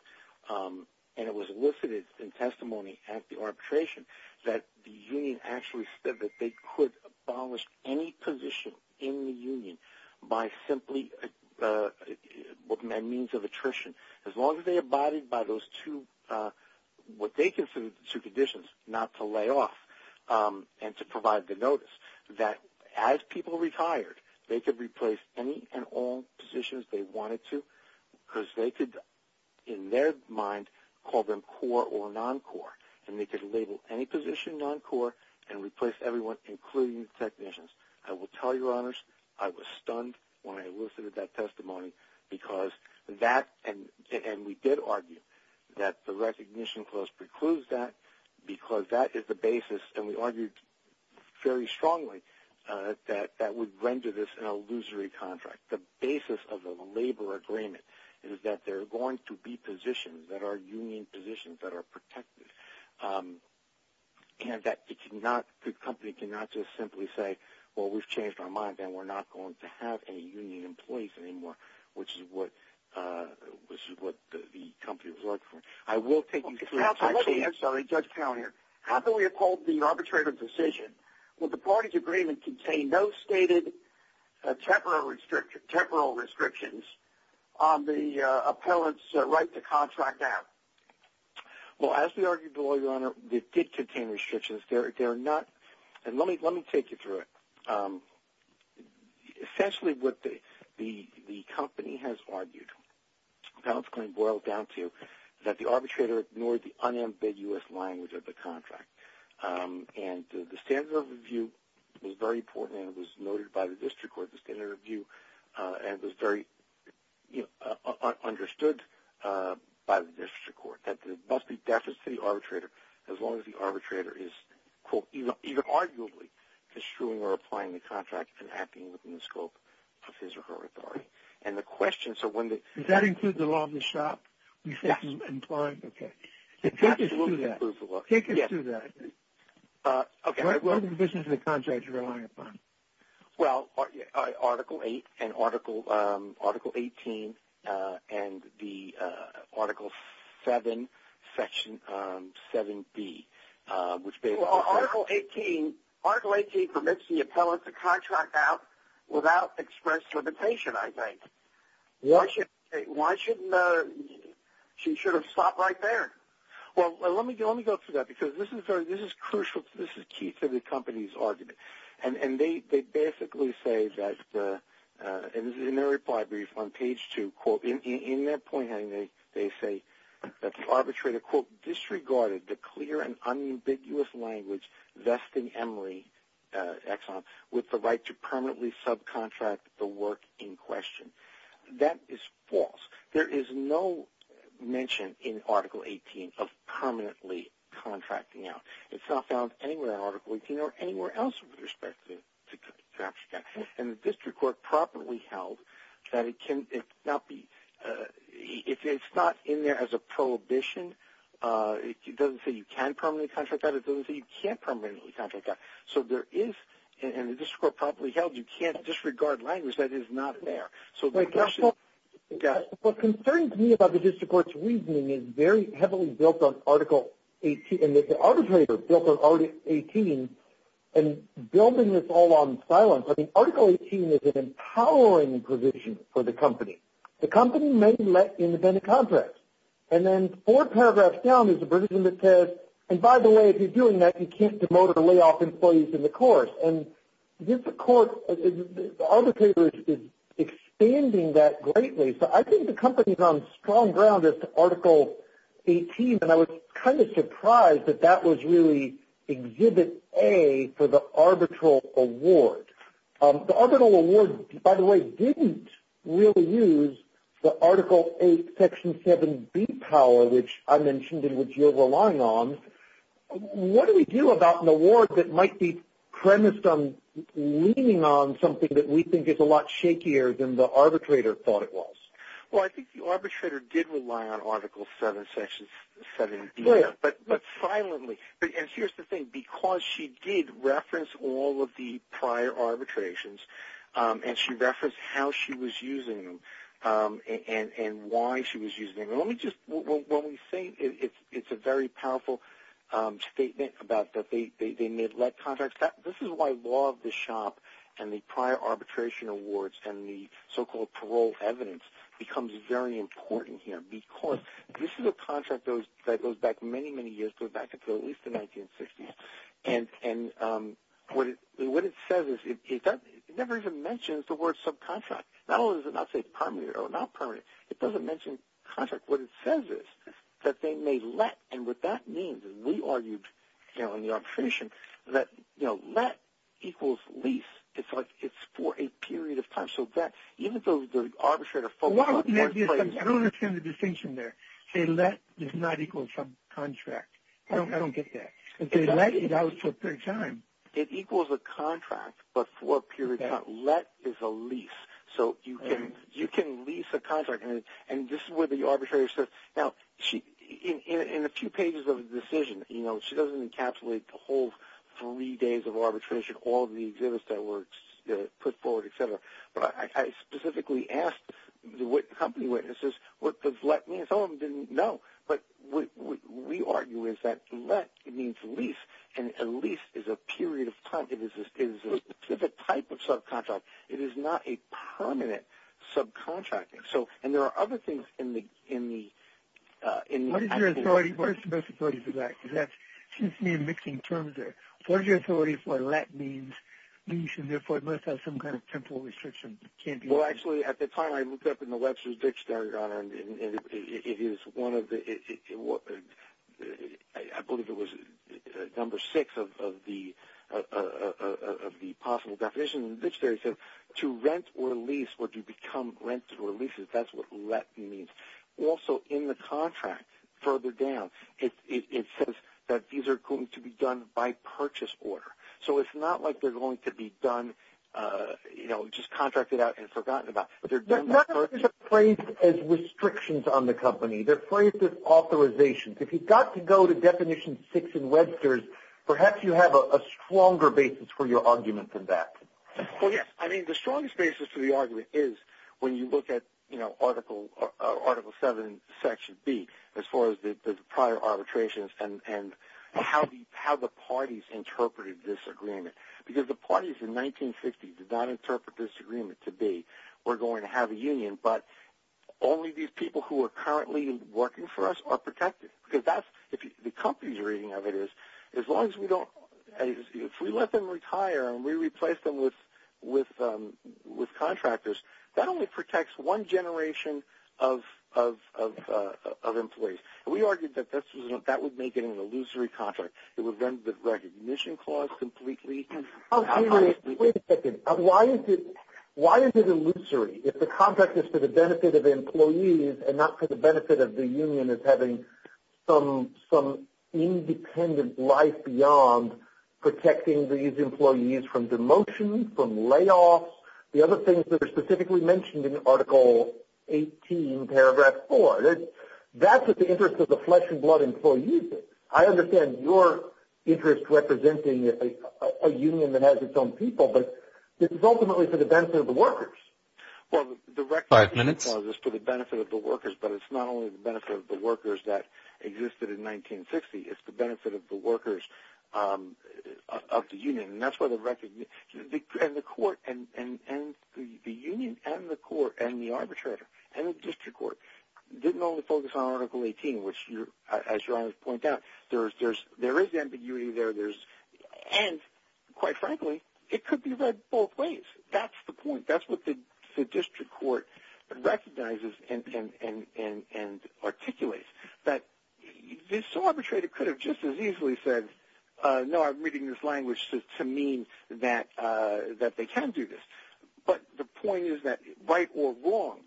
and it was elicited in testimony at the arbitration, that the union actually said that they could abolish any position in the union by simply, by means of attrition, as long as they abided by those two, what they considered the two conditions, not to layoff and to provide the notice. That as people retired, they could replace any and all positions they wanted to, because they could, in their mind, call them core or non-core. And they could label any position non-core and replace everyone, including technicians. I will tell you, Your Honors, I was stunned when I elicited that testimony, because that, and we did argue that the recognition clause precludes that, because that is the basis. And we argued very strongly that that would render this an illusory contract. The basis of the labor agreement is that there are going to be positions that are union positions that are protected, and that the company cannot just simply say, well, we've changed our minds and we're not going to have any union employees anymore, which is what the company was looking I will take you through the text. I'm sorry, Judge Towner, how can we uphold the arbitrator's decision when the parties' agreement contained no stated temporal restrictions on the appellant's right to contract out? Well, as we argued, Your Honor, it did contain restrictions. They're not, and let me take you through it. Essentially, what the company has argued, the appellant's claim boils down to, that the arbitrator ignored the unambiguous language of the contract. And the standard of review was very important, and it was noted by the district court, the standard of review, and it was very understood by the district court, that there must be deficits to the arbitrator, as long as the arbitrator is, quote, even arguably, construing or applying the contract and acting within the scope of his or her authority. And the question, so when the... Does that include the law of the shop? Yes. Okay. Take us through that. Yes. Take us through that. Okay. What are the provisions of the contract you're relying upon? Well, Article 8 and Article 18, and the Article 7, Section 7B, which basically... Article 18, Article 18 permits the appellant to contract out without express limitation, I think. Why shouldn't... She should have stopped right there. Well, let me go through that, because this is crucial. This is key to the company's argument. And they basically say that, in their reply brief on page 2, quote, in their point, they say that the arbitrator, quote, disregarded the clear and unambiguous language vesting Emory Exxon with the right to permanently subcontract the work in question. That is false. There is no mention in Article 18 of permanently contracting out. It's not found anywhere in Article 18 or anywhere else with respect to that. And the district court properly held that it cannot be... It's not in there as a prohibition. It doesn't say you can permanently contract out. It doesn't say you can't permanently contract out. So there is... And the district court properly held you can't disregard language that is not there. So the question... What concerns me about the district court's reasoning is very heavily built on Article 18 and that the arbitrator built on Article 18 and building this all on silence. I mean, Article 18 is an empowering provision for the company. The company may let independent contracts. And then four paragraphs down is a provision that says, and by the way, if you're doing that, you can't demote or lay off employees in the course. And this court, the arbitrator is expanding that greatly. So I think the company is on strong ground as to Article 18, and I was kind of surprised that that was really Exhibit A for the arbitral award. The arbitral award, by the way, didn't really use the Article 8, Section 7B power, which I mentioned and which you're relying on. What do we do about an award that might be premised on leaning on something that we think is a lot shakier than the arbitrator thought it was? Well, I think the arbitrator did rely on Article 7, Section 7B, but silently. And here's the thing. Because she did reference all of the prior arbitrations and she referenced how she was using them and why she was using them, let me just ñ when we say it's a very powerful statement about that they made led contracts, this is why law of the shop and the prior arbitration awards and the so-called parole evidence becomes very important here. Because this is a contract that goes back many, many years. It goes back at least to the 1960s. And what it says is it never even mentions the word subcontract. Not only does it not say permanent or not permanent, it doesn't mention contract. What it says is that they made let, and what that means, and we argued in the arbitration that let equals lease. It's for a period of time. I don't understand the distinction there. Say let does not equal subcontract. I don't get that. They let it out for a period of time. It equals a contract, but for a period of time. Let is a lease. So you can lease a contract. And this is where the arbitrator says ñ now, in a few pages of the decision, she doesn't encapsulate the whole three days of arbitration, all the exhibits that were put forward, et cetera. But I specifically asked the company witnesses, what does let mean? Some of them didn't know. But we argue that let means lease, and a lease is a period of time. It is a specific type of subcontract. It is not a permanent subcontract. And there are other things in the ñ What is your authority for that? Excuse me for mixing terms there. What is your authority for let means? Lease, and therefore, it must have some kind of temporal restriction. Well, actually, at the time I looked up in the Webster's Dictionary, and it is one of the ñ I believe it was number six of the possible definitions. The dictionary said to rent or lease or to become rented or leased. That's what let means. Also, in the contract, further down, it says that these are going to be done by purchase order. So it's not like they're going to be done, you know, just contracted out and forgotten about. They're not phrased as restrictions on the company. They're phrased as authorizations. If you've got to go to definition six in Webster's, perhaps you have a stronger basis for your argument than that. Well, yes. Article 7, Section B, as far as the prior arbitrations and how the parties interpreted this agreement. Because the parties in 1950 did not interpret this agreement to be, we're going to have a union, but only these people who are currently working for us are protected. Because the company's reading of it is, as long as we don't ñ if we let them retire and we replace them with contractors, that only protects one generation of employees. We argued that that would make it an illusory contract. It would render the recognition clause completely. Wait a second. Why is it illusory? If the contract is for the benefit of employees and not for the benefit of the union as having some independent life beyond protecting these employees from demotion, from layoffs, the other things that are specifically mentioned in Article 18, Paragraph 4, that's what the interest of the flesh and blood employees is. I understand your interest representing a union that has its own people, but this is ultimately for the benefit of the workers. Well, the recognition clause is for the benefit of the workers, but it's not only the benefit of the workers that existed in 1960. It's the benefit of the workers of the union. And the court and ñ the union and the court and the arbitrator and the district court didn't only focus on Article 18, which as your Honor has pointed out, there is ambiguity there. And quite frankly, it could be read both ways. That's the point. That's what the district court recognizes and articulates, that this arbitrator could have just as easily said, no, I'm reading this language to mean that they can do this. But the point is that right or wrong,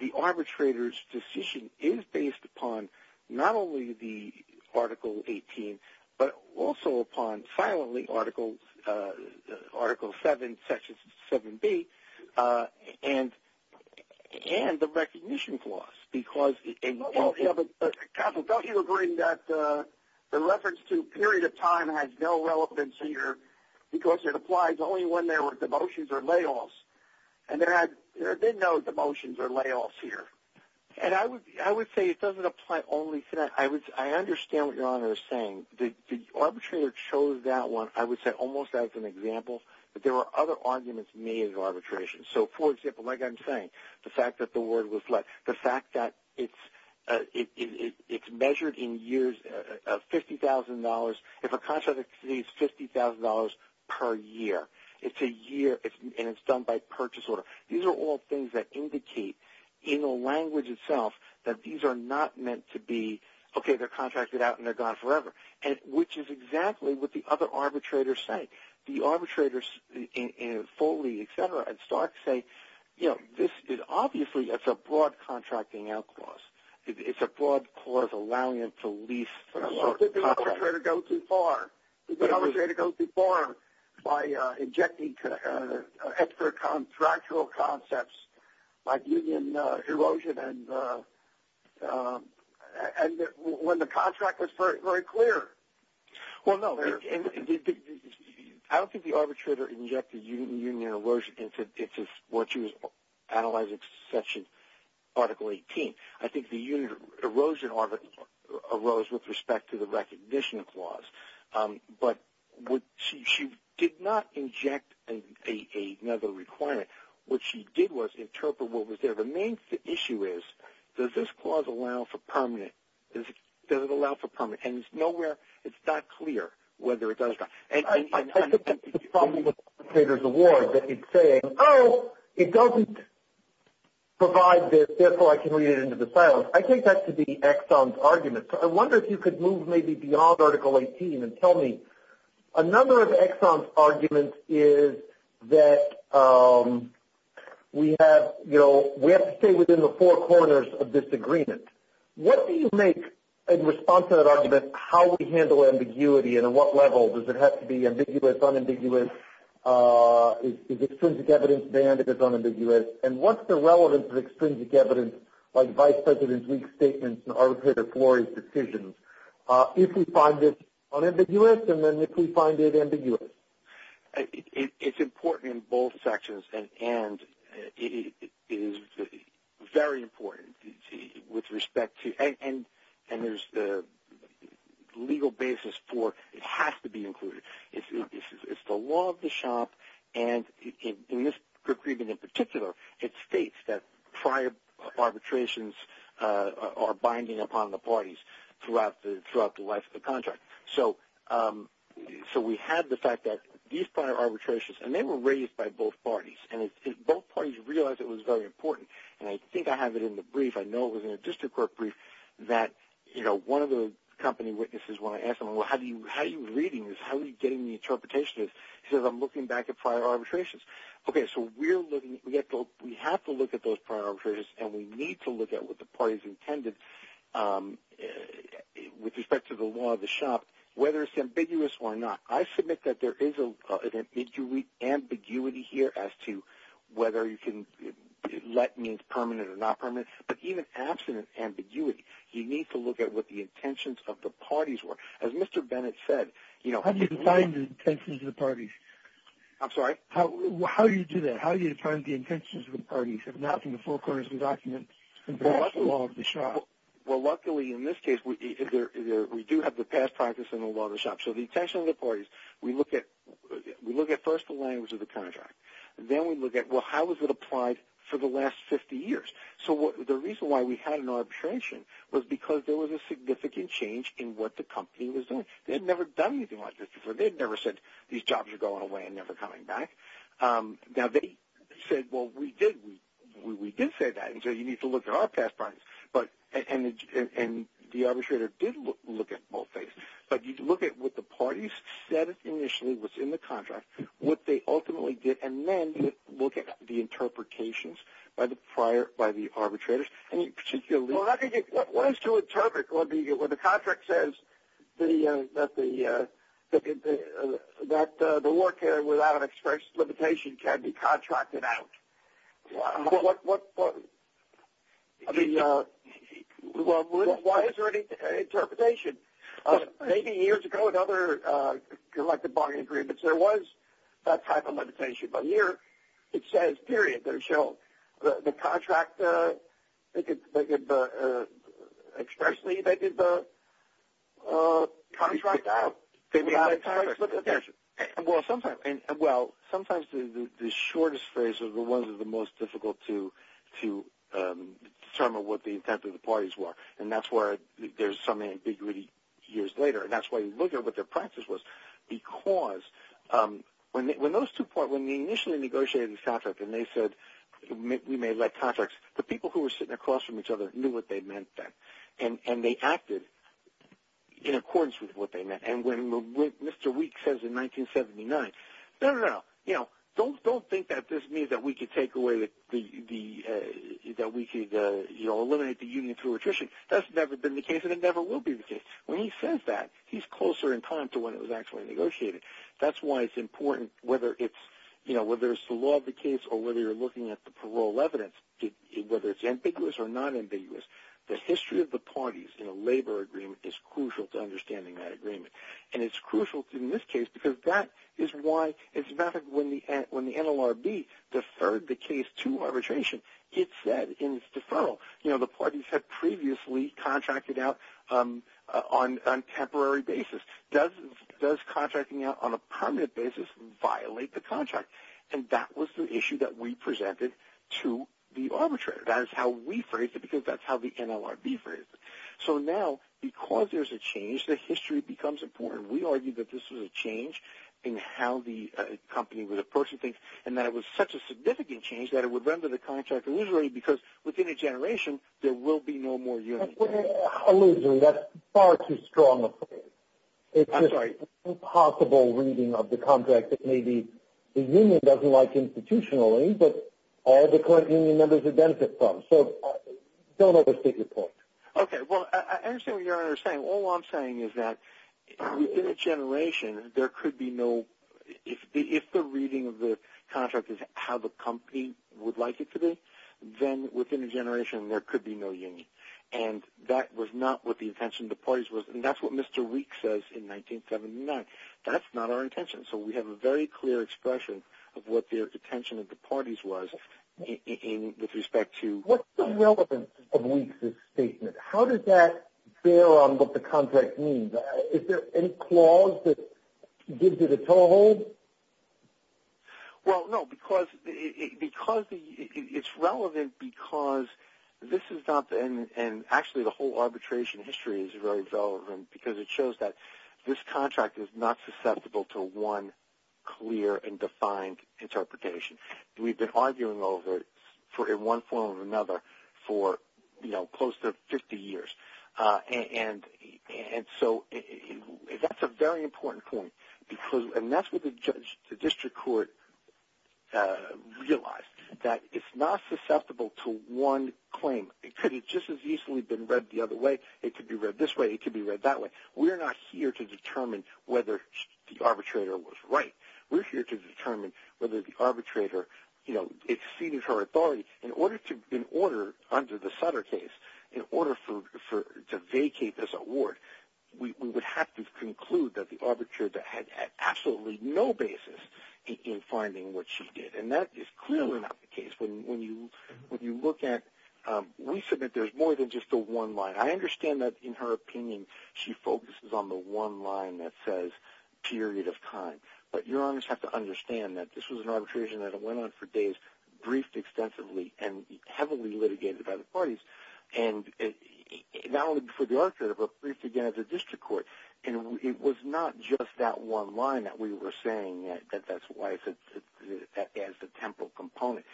the arbitrator's decision is based upon not only the Article 18, but also upon silently Article 7, Section 7B, and the recognition clause. Counsel, don't you agree that the reference to period of time has no relevance here because it applies only when there were demotions or layoffs? And there had been no demotions or layoffs here. And I would say it doesn't apply only to that. I understand what your Honor is saying. The arbitrator chose that one, I would say, almost as an example, but there were other arguments made in arbitration. So, for example, like I'm saying, the fact that the word was left, the fact that it's measured in years of $50,000, if a contract exceeds $50,000 per year, it's a year, and it's done by purchase order. These are all things that indicate in the language itself that these are not meant to be, okay, they're contracted out and they're gone forever, which is exactly what the other arbitrators say. The arbitrators in Foley, et cetera, and Stark say, you know, this is obviously a broad contracting out clause. It's a broad clause allowing them to lease. So did the arbitrator go too far? Did the arbitrator go too far by injecting extra contractual concepts like union erosion and when the contract was very clear? Well, no, I don't think the arbitrator injected union erosion into what she was analyzing section Article 18. I think the union erosion arose with respect to the recognition clause. But she did not inject another requirement. What she did was interpret what was there. The main issue is, does this clause allow for permanent? Does it allow for permanent? And it's not clear whether it does or not. I think that's the problem with the arbitrator's award, that he's saying, oh, it doesn't provide this, therefore I can read it into the silence. I take that to be Exxon's argument. So I wonder if you could move maybe beyond Article 18 and tell me. Another of Exxon's arguments is that we have to stay within the four corners of disagreement. What do you make in response to that argument? How do we handle ambiguity and at what level? Does it have to be ambiguous, unambiguous? Is extrinsic evidence banned if it's unambiguous? And what's the relevance of extrinsic evidence, like Vice President's weak statements and Arbitrator Flory's decisions, if we find it unambiguous and then if we find it ambiguous? It's important in both sections, and it is very important, and there's the legal basis for it has to be included. It's the law of the shop, and in this agreement in particular, it states that prior arbitrations are binding upon the parties throughout the life of the contract. So we have the fact that these prior arbitrations, and they were raised by both parties, and both parties realized it was very important. And I think I have it in the brief. I know it was in a district court brief that, you know, one of the company witnesses, when I asked him, well, how are you reading this? How are you getting the interpretation of this? He says, I'm looking back at prior arbitrations. Okay, so we have to look at those prior arbitrations, and we need to look at what the parties intended with respect to the law of the shop, whether it's ambiguous or not. I submit that there is an ambiguity here as to whether you can let means permanent or not permanent, but even abstinent ambiguity. You need to look at what the intentions of the parties were. As Mr. Bennett said, you know, How do you define the intentions of the parties? I'm sorry? How do you do that? How do you define the intentions of the parties if not from the four corners of the document and perhaps the law of the shop? So the intentions of the parties, we look at first the language of the contract. Then we look at, well, how has it applied for the last 50 years? So the reason why we had an arbitration was because there was a significant change in what the company was doing. They had never done anything like this before. They had never said these jobs are going away and never coming back. Now they said, well, we did say that, and so you need to look at our past parties, and the arbitrator did look at both things. But you look at what the parties said initially was in the contract, what they ultimately did, and then you look at the interpretations by the arbitrators. And you particularly Well, what is to interpret when the contract says that the worker without an express limitation can be contracted out? Well, why is there an interpretation? Maybe years ago in other collective bargaining agreements there was that type of limitation. But here it says, period, they're shown. The contract, expressly they did the contract out. They made the contract. Well, sometimes the shortest phrase is the one that's the most difficult to determine what the intent of the parties were, and that's where there's some ambiguity years later. And that's why you look at what their practice was. Because when those two parties, when they initially negotiated the contract and they said we may elect contracts, the people who were sitting across from each other knew what they meant then, and they acted in accordance with what they meant. And when Mr. Weeks says in 1979, no, no, no, don't think that this means that we could take away the ñ that's never been the case and it never will be the case. When he says that, he's closer in time to when it was actually negotiated. That's why it's important whether it's, you know, whether it's the law of the case or whether you're looking at the parole evidence, whether it's ambiguous or not ambiguous, the history of the parties in a labor agreement is crucial to understanding that agreement. And it's crucial in this case because that is why it's about when the NLRB deferred the case to arbitration, it said in its deferral, you know, the parties had previously contracted out on a temporary basis. Does contracting out on a permanent basis violate the contract? And that was the issue that we presented to the arbitrator. That is how we phrased it because that's how the NLRB phrased it. So now because there's a change, the history becomes important. We argued that this was a change in how the company was approaching things and that it was such a significant change that it would render the contract illusory because within a generation there will be no more unions. Illusory, that's far too strong a phrase. I'm sorry. It's just impossible reading of the contract that maybe the union doesn't like institutionally but all the current union members benefit from. So don't overstate your point. Okay. Well, I understand what you're saying. All I'm saying is that within a generation there could be no ---- if the reading of the contract is how the company would like it to be, then within a generation there could be no union. And that was not what the intention of the parties was, and that's what Mr. Weeks says in 1979. That's not our intention. So we have a very clear expression of what the intention of the parties was with respect to ---- What's the relevance of Weeks' statement? How does that bear on what the contract means? Is there any clause that gives it a toehold? Well, no, because it's relevant because this is not the end, and actually the whole arbitration history is very relevant because it shows that this contract is not susceptible to one clear and defined interpretation. We've been arguing over it in one form or another for close to 50 years. And so that's a very important point, and that's what the district court realized, that it's not susceptible to one claim. It could have just as easily been read the other way. It could be read this way. It could be read that way. We're not here to determine whether the arbitrator was right. We're here to determine whether the arbitrator exceeded her authority. In order, under the Sutter case, in order to vacate this award, we would have to conclude that the arbitrator had absolutely no basis in finding what she did, and that is clearly not the case. When you look at ---- We submit there's more than just the one line. I understand that, in her opinion, she focuses on the one line that says period of time, but you always have to understand that this was an arbitration that went on for days, briefed extensively, and heavily litigated by the parties, and not only before the arbitrator but briefed again at the district court. And it was not just that one line that we were saying that that's why it's a temporal component.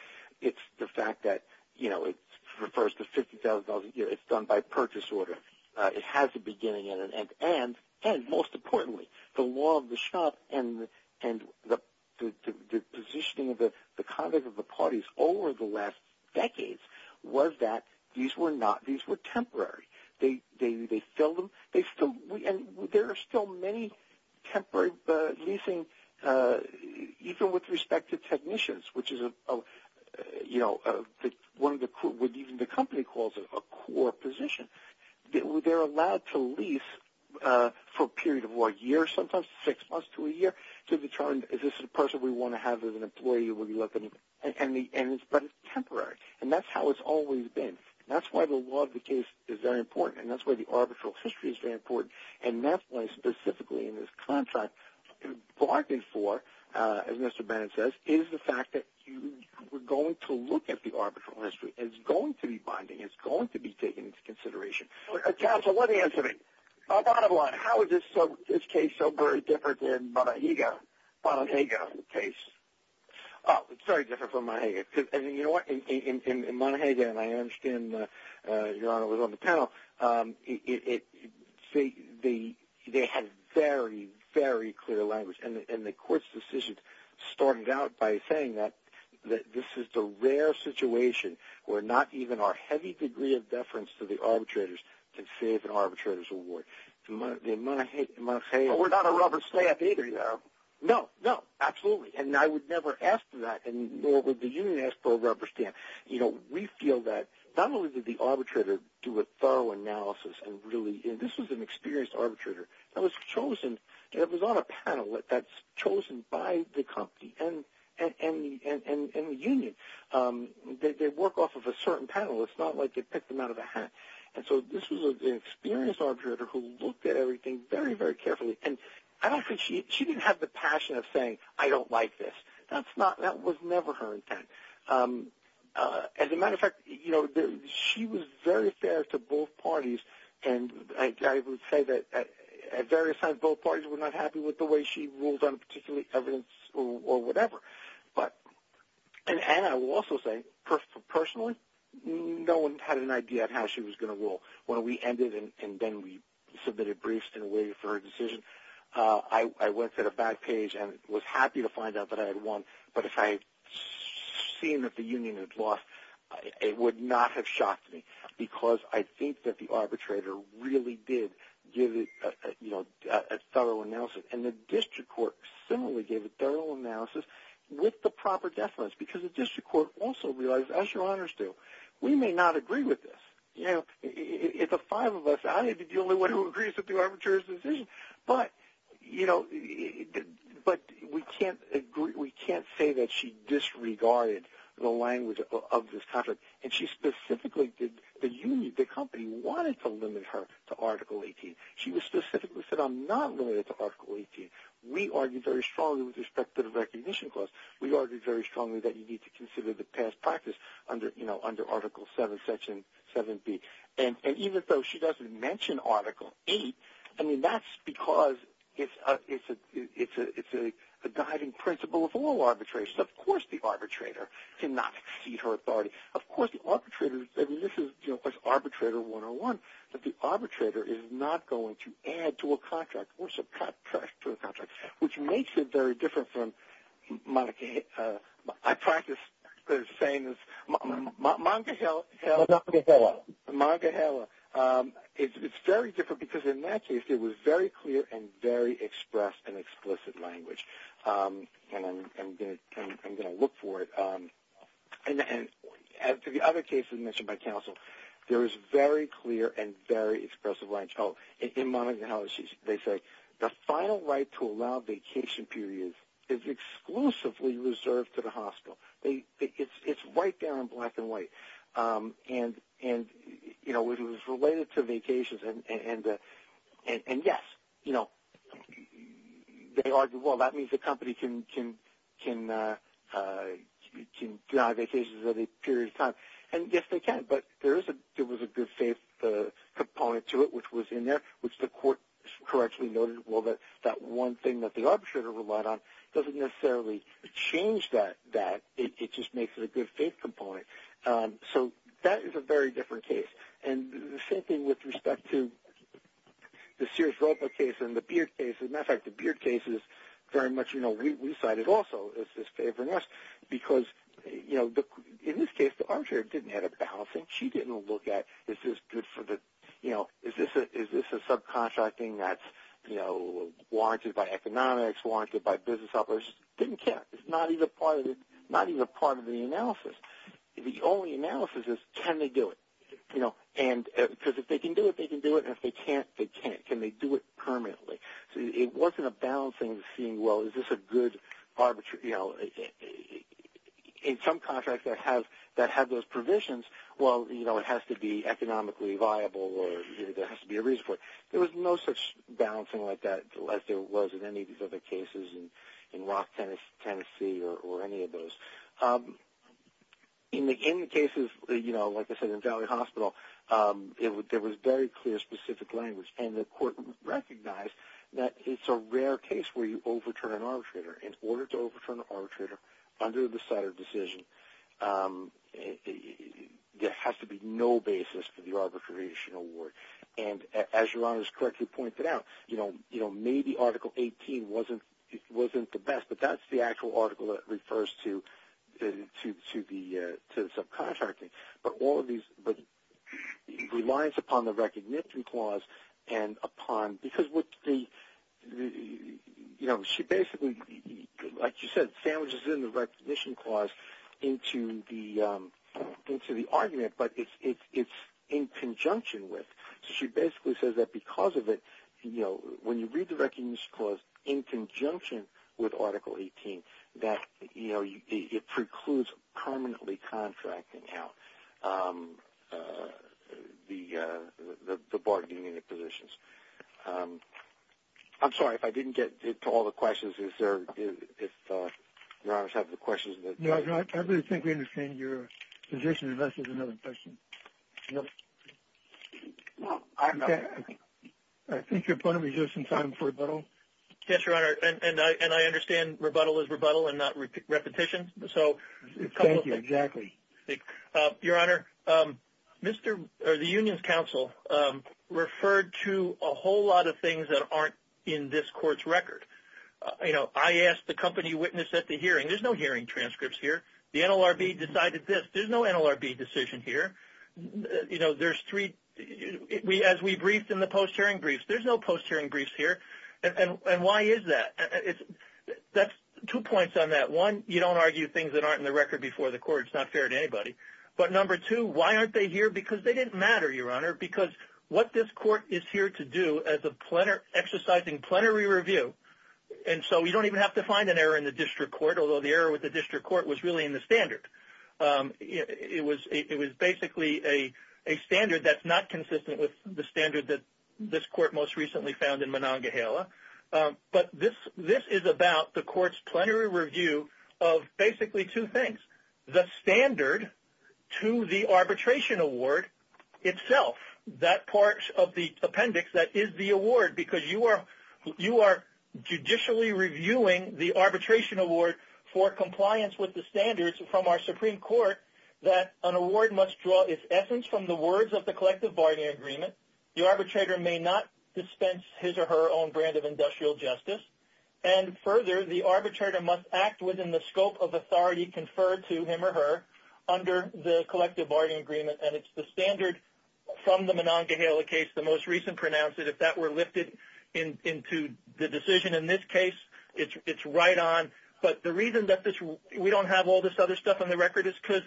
It's the fact that, you know, it refers to $50,000 a year. It's done by purchase order. It has a beginning and an end. And most importantly, the law of the shop and the positioning of the conduct of the parties over the last decades was that these were not ---- These were temporary. They filled them. They still ---- And there are still many temporary leasing, even with respect to technicians, which is, you know, what even the company calls a core position. They're allowed to lease for a period of, what, a year sometimes, six months to a year, to determine is this the person we want to have as an employee or will you let them ---- But it's temporary. And that's how it's always been. That's why the law of the case is very important, and that's why the arbitral history is very important. And that's why, specifically, in this contract, bargained for, as Mr. Bennett says, is the fact that we're going to look at the arbitral history. It's going to be binding. It's going to be taken into consideration. Counsel, let me answer that. Bottom line, how is this case so very different than Monahega case? Oh, it's very different from Monahega. And you know what? In Monahega, and I understand Your Honor was on the panel, they had very, very clear language. And the court's decision stormed out by saying that this is the rare situation where not even our heavy degree of deference to the arbitrators can save an arbitrator's award. The Monahega ---- But we're not a rubber stamp either, Your Honor. No, no, absolutely. And I would never ask for that, nor would the union ask for a rubber stamp. You know, we feel that not only did the arbitrator do a thorough analysis and really ---- this was an experienced arbitrator that was chosen, that was on a panel that's chosen by the company and the union. Right? They work off of a certain panel. It's not like they picked them out of a hat. And so this was an experienced arbitrator who looked at everything very, very carefully. And I don't think she ---- she didn't have the passion of saying, I don't like this. That's not ---- that was never her intent. As a matter of fact, you know, she was very fair to both parties. And I would say that at various times both parties were not happy with the way she ruled on particularly evidence or whatever. But ---- and I will also say, personally, no one had an idea of how she was going to rule. When we ended and then we submitted briefs and waited for her decision, I went to the back page and was happy to find out that I had won. But if I had seen that the union had lost, it would not have shocked me because I think that the arbitrator really did give it, you know, a thorough analysis. And the district court similarly gave a thorough analysis with the proper deference because the district court also realized, as your honors do, we may not agree with this. You know, it's the five of us. I need to be the only one who agrees with the arbitrator's decision. But, you know, but we can't agree ---- we can't say that she disregarded the language of this contract. And she specifically did ---- the union, the company wanted to limit her to Article 18. She specifically said, I'm not limited to Article 18. We argued very strongly with respect to the recognition clause. We argued very strongly that you need to consider the past practice under, you know, under Article 7, Section 7B. And even though she doesn't mention Article 8, I mean, that's because it's a guiding principle of all arbitration. Of course the arbitrator cannot exceed her authority. Of course the arbitrator is not going to add to a contract or subtract to a contract, which makes it very different from Monica ---- I practice saying this, Monica Heller, it's very different because in that case it was very clear and very expressed and explicit language. And I'm going to look for it. And to the other cases mentioned by counsel, there was very clear and very expressive language. Oh, in Monica Heller, they say, the final right to allow vacation periods is exclusively reserved to the hospital. It's right there in black and white. And, you know, it was related to vacations. And, yes, you know, they argue, well, that means the company can deny vacations at a period of time. And, yes, they can. But there was a good faith component to it, which was in there, which the court correctly noted, well, that one thing that the arbitrator relied on doesn't necessarily change that. It just makes it a good faith component. So that is a very different case. And the same thing with respect to the Sears-Roper case and the Beard case. As a matter of fact, the Beard case is very much, you know, we cited also as just favoring us because, you know, in this case the arbitrator didn't have a balance. She didn't look at is this good for the, you know, is this a subcontracting that's, you know, warranted by economics, warranted by business offers. Didn't care. It's not even part of the analysis. The only analysis is can they do it, you know? Because if they can do it, they can do it. And if they can't, they can't. Can they do it permanently? It wasn't a balancing seeing, well, is this a good arbitrary, you know, in some contracts that have those provisions, well, you know, it has to be economically viable or there has to be a reason for it. There was no such balancing like that as there was in any of these other cases in Rock, Tennessee or any of those. In the cases, you know, like I said, in Valley Hospital, there was very clear specific language and the court recognized that it's a rare case where you overturn an arbitrator. In order to overturn an arbitrator under the Sutter decision, there has to be no basis for the arbitration award. And as your Honor has correctly pointed out, you know, maybe Article 18 wasn't the best, but that's the actual article that refers to the subcontracting. But all of these relies upon the recognition clause and upon because what the, you know, she basically, like you said, sandwiches in the recognition clause into the argument, but it's in conjunction with. She basically says that because of it, you know, when you read the recognition clause in conjunction with Article 18, that, you know, it precludes permanently contracting out the bargaining unit positions. I'm sorry if I didn't get to all the questions. Is there, if Your Honor has the questions? No, I really think we understand your position unless there's another question. No, I'm not. I think your point was just in time for rebuttal. Yes, Your Honor, and I understand rebuttal is rebuttal and not repetition. Thank you, exactly. Your Honor, the Union's counsel referred to a whole lot of things that aren't in this court's record. You know, I asked the company witness at the hearing, there's no hearing transcripts here. The NLRB decided this. There's no NLRB decision here. You know, there's three, as we briefed in the post-hearing briefs, there's no post-hearing briefs here. And why is that? That's two points on that. One, you don't argue things that aren't in the record before the court. It's not fair to anybody. But number two, why aren't they here? Because they didn't matter, Your Honor, because what this court is here to do as an exercising plenary review, and so we don't even have to find an error in the district court, although the error with the district court was really in the standard. It was basically a standard that's not consistent with the standard that this court most recently found in Monongahela. But this is about the court's plenary review of basically two things, the standard to the arbitration award itself, that part of the appendix that is the award, because you are judicially reviewing the arbitration award for compliance with the standards from our Supreme Court that an award must draw its essence from the words of the collective bargaining agreement. The arbitrator may not dispense his or her own brand of industrial justice. And further, the arbitrator must act within the scope of authority conferred to him or her under the collective bargaining agreement. And it's the standard from the Monongahela case, the most recent pronounced, that if that were lifted into the decision in this case, it's right on. But the reason that we don't have all this other stuff on the record is because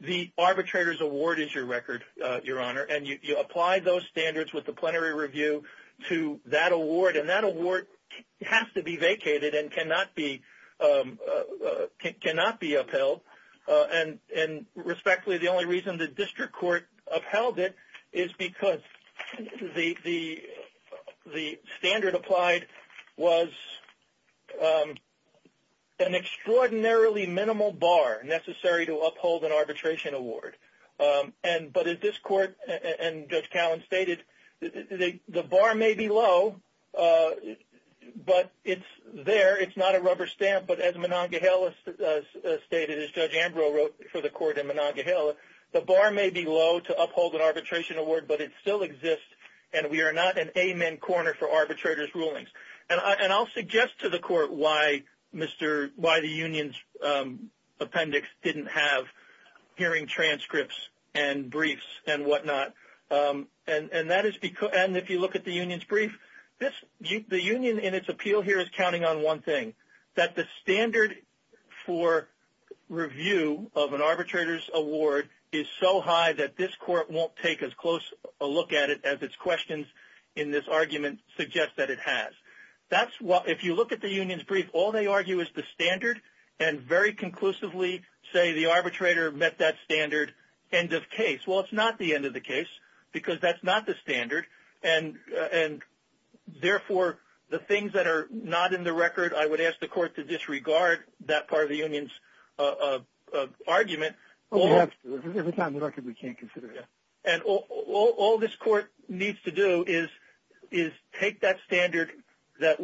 the arbitrator's award is your record, Your Honor, and you apply those standards with the plenary review to that award. And that award has to be vacated and cannot be upheld. And respectfully, the only reason the district court upheld it is because the standard applied was an extraordinarily minimal bar necessary to uphold an arbitration award. But as this court and Judge Callen stated, the bar may be low, but it's there. It's not a rubber stamp. But as Monongahela stated, as Judge Ambrose wrote for the court in Monongahela, the bar may be low to uphold an arbitration award, but it still exists, and we are not an amen corner for arbitrator's rulings. And I'll suggest to the court why the union's appendix didn't have hearing transcripts and briefs and whatnot. And if you look at the union's brief, the union in its appeal here is counting on one thing, that the standard for review of an arbitrator's award is so high that this court won't take as close a look at it as its questions in this argument suggest that it has. If you look at the union's brief, all they argue is the standard, and very conclusively say the arbitrator met that standard, end of case. Well, it's not the end of the case because that's not the standard, and therefore the things that are not in the record, I would ask the court to disregard that part of the union's argument. Every time in the record we can't consider it. And all this court needs to do is take that standard that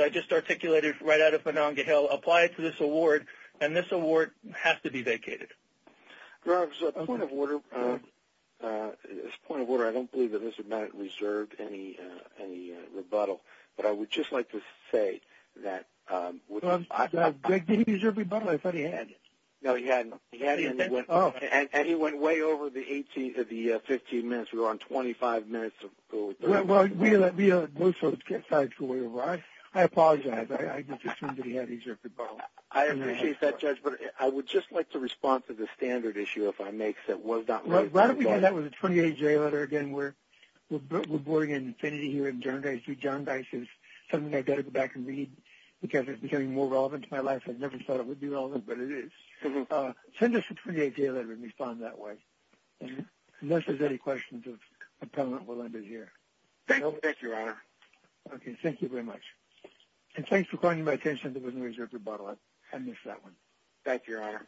I just articulated right out of Monongahela, apply it to this award, and this award has to be vacated. Rob, as a point of order, I don't believe that Mr. Bennett reserved any rebuttal, but I would just like to say that... Did he reserve rebuttal? I thought he had. No, he hadn't. Oh. And he went way over the 15 minutes. We were on 25 minutes. Well, both sides go way over. I apologize. I just assumed that he had reserved rebuttal. I appreciate that, Judge, but I would just like to respond to the standard issue if I may. Why don't we do that with the 28-J letter again? We're boarding an infinity here in John Dice. John Dice is something I've got to go back and read because it's becoming more relevant to my life. I never thought it would be relevant, but it is. Send us the 28-J letter and respond that way. Unless there's any questions, the appellant will end his year. Thank you, Your Honor. Okay. Thank you very much. And thanks for calling my attention. There was no reserved rebuttal. I missed that one. Thank you, Your Honor.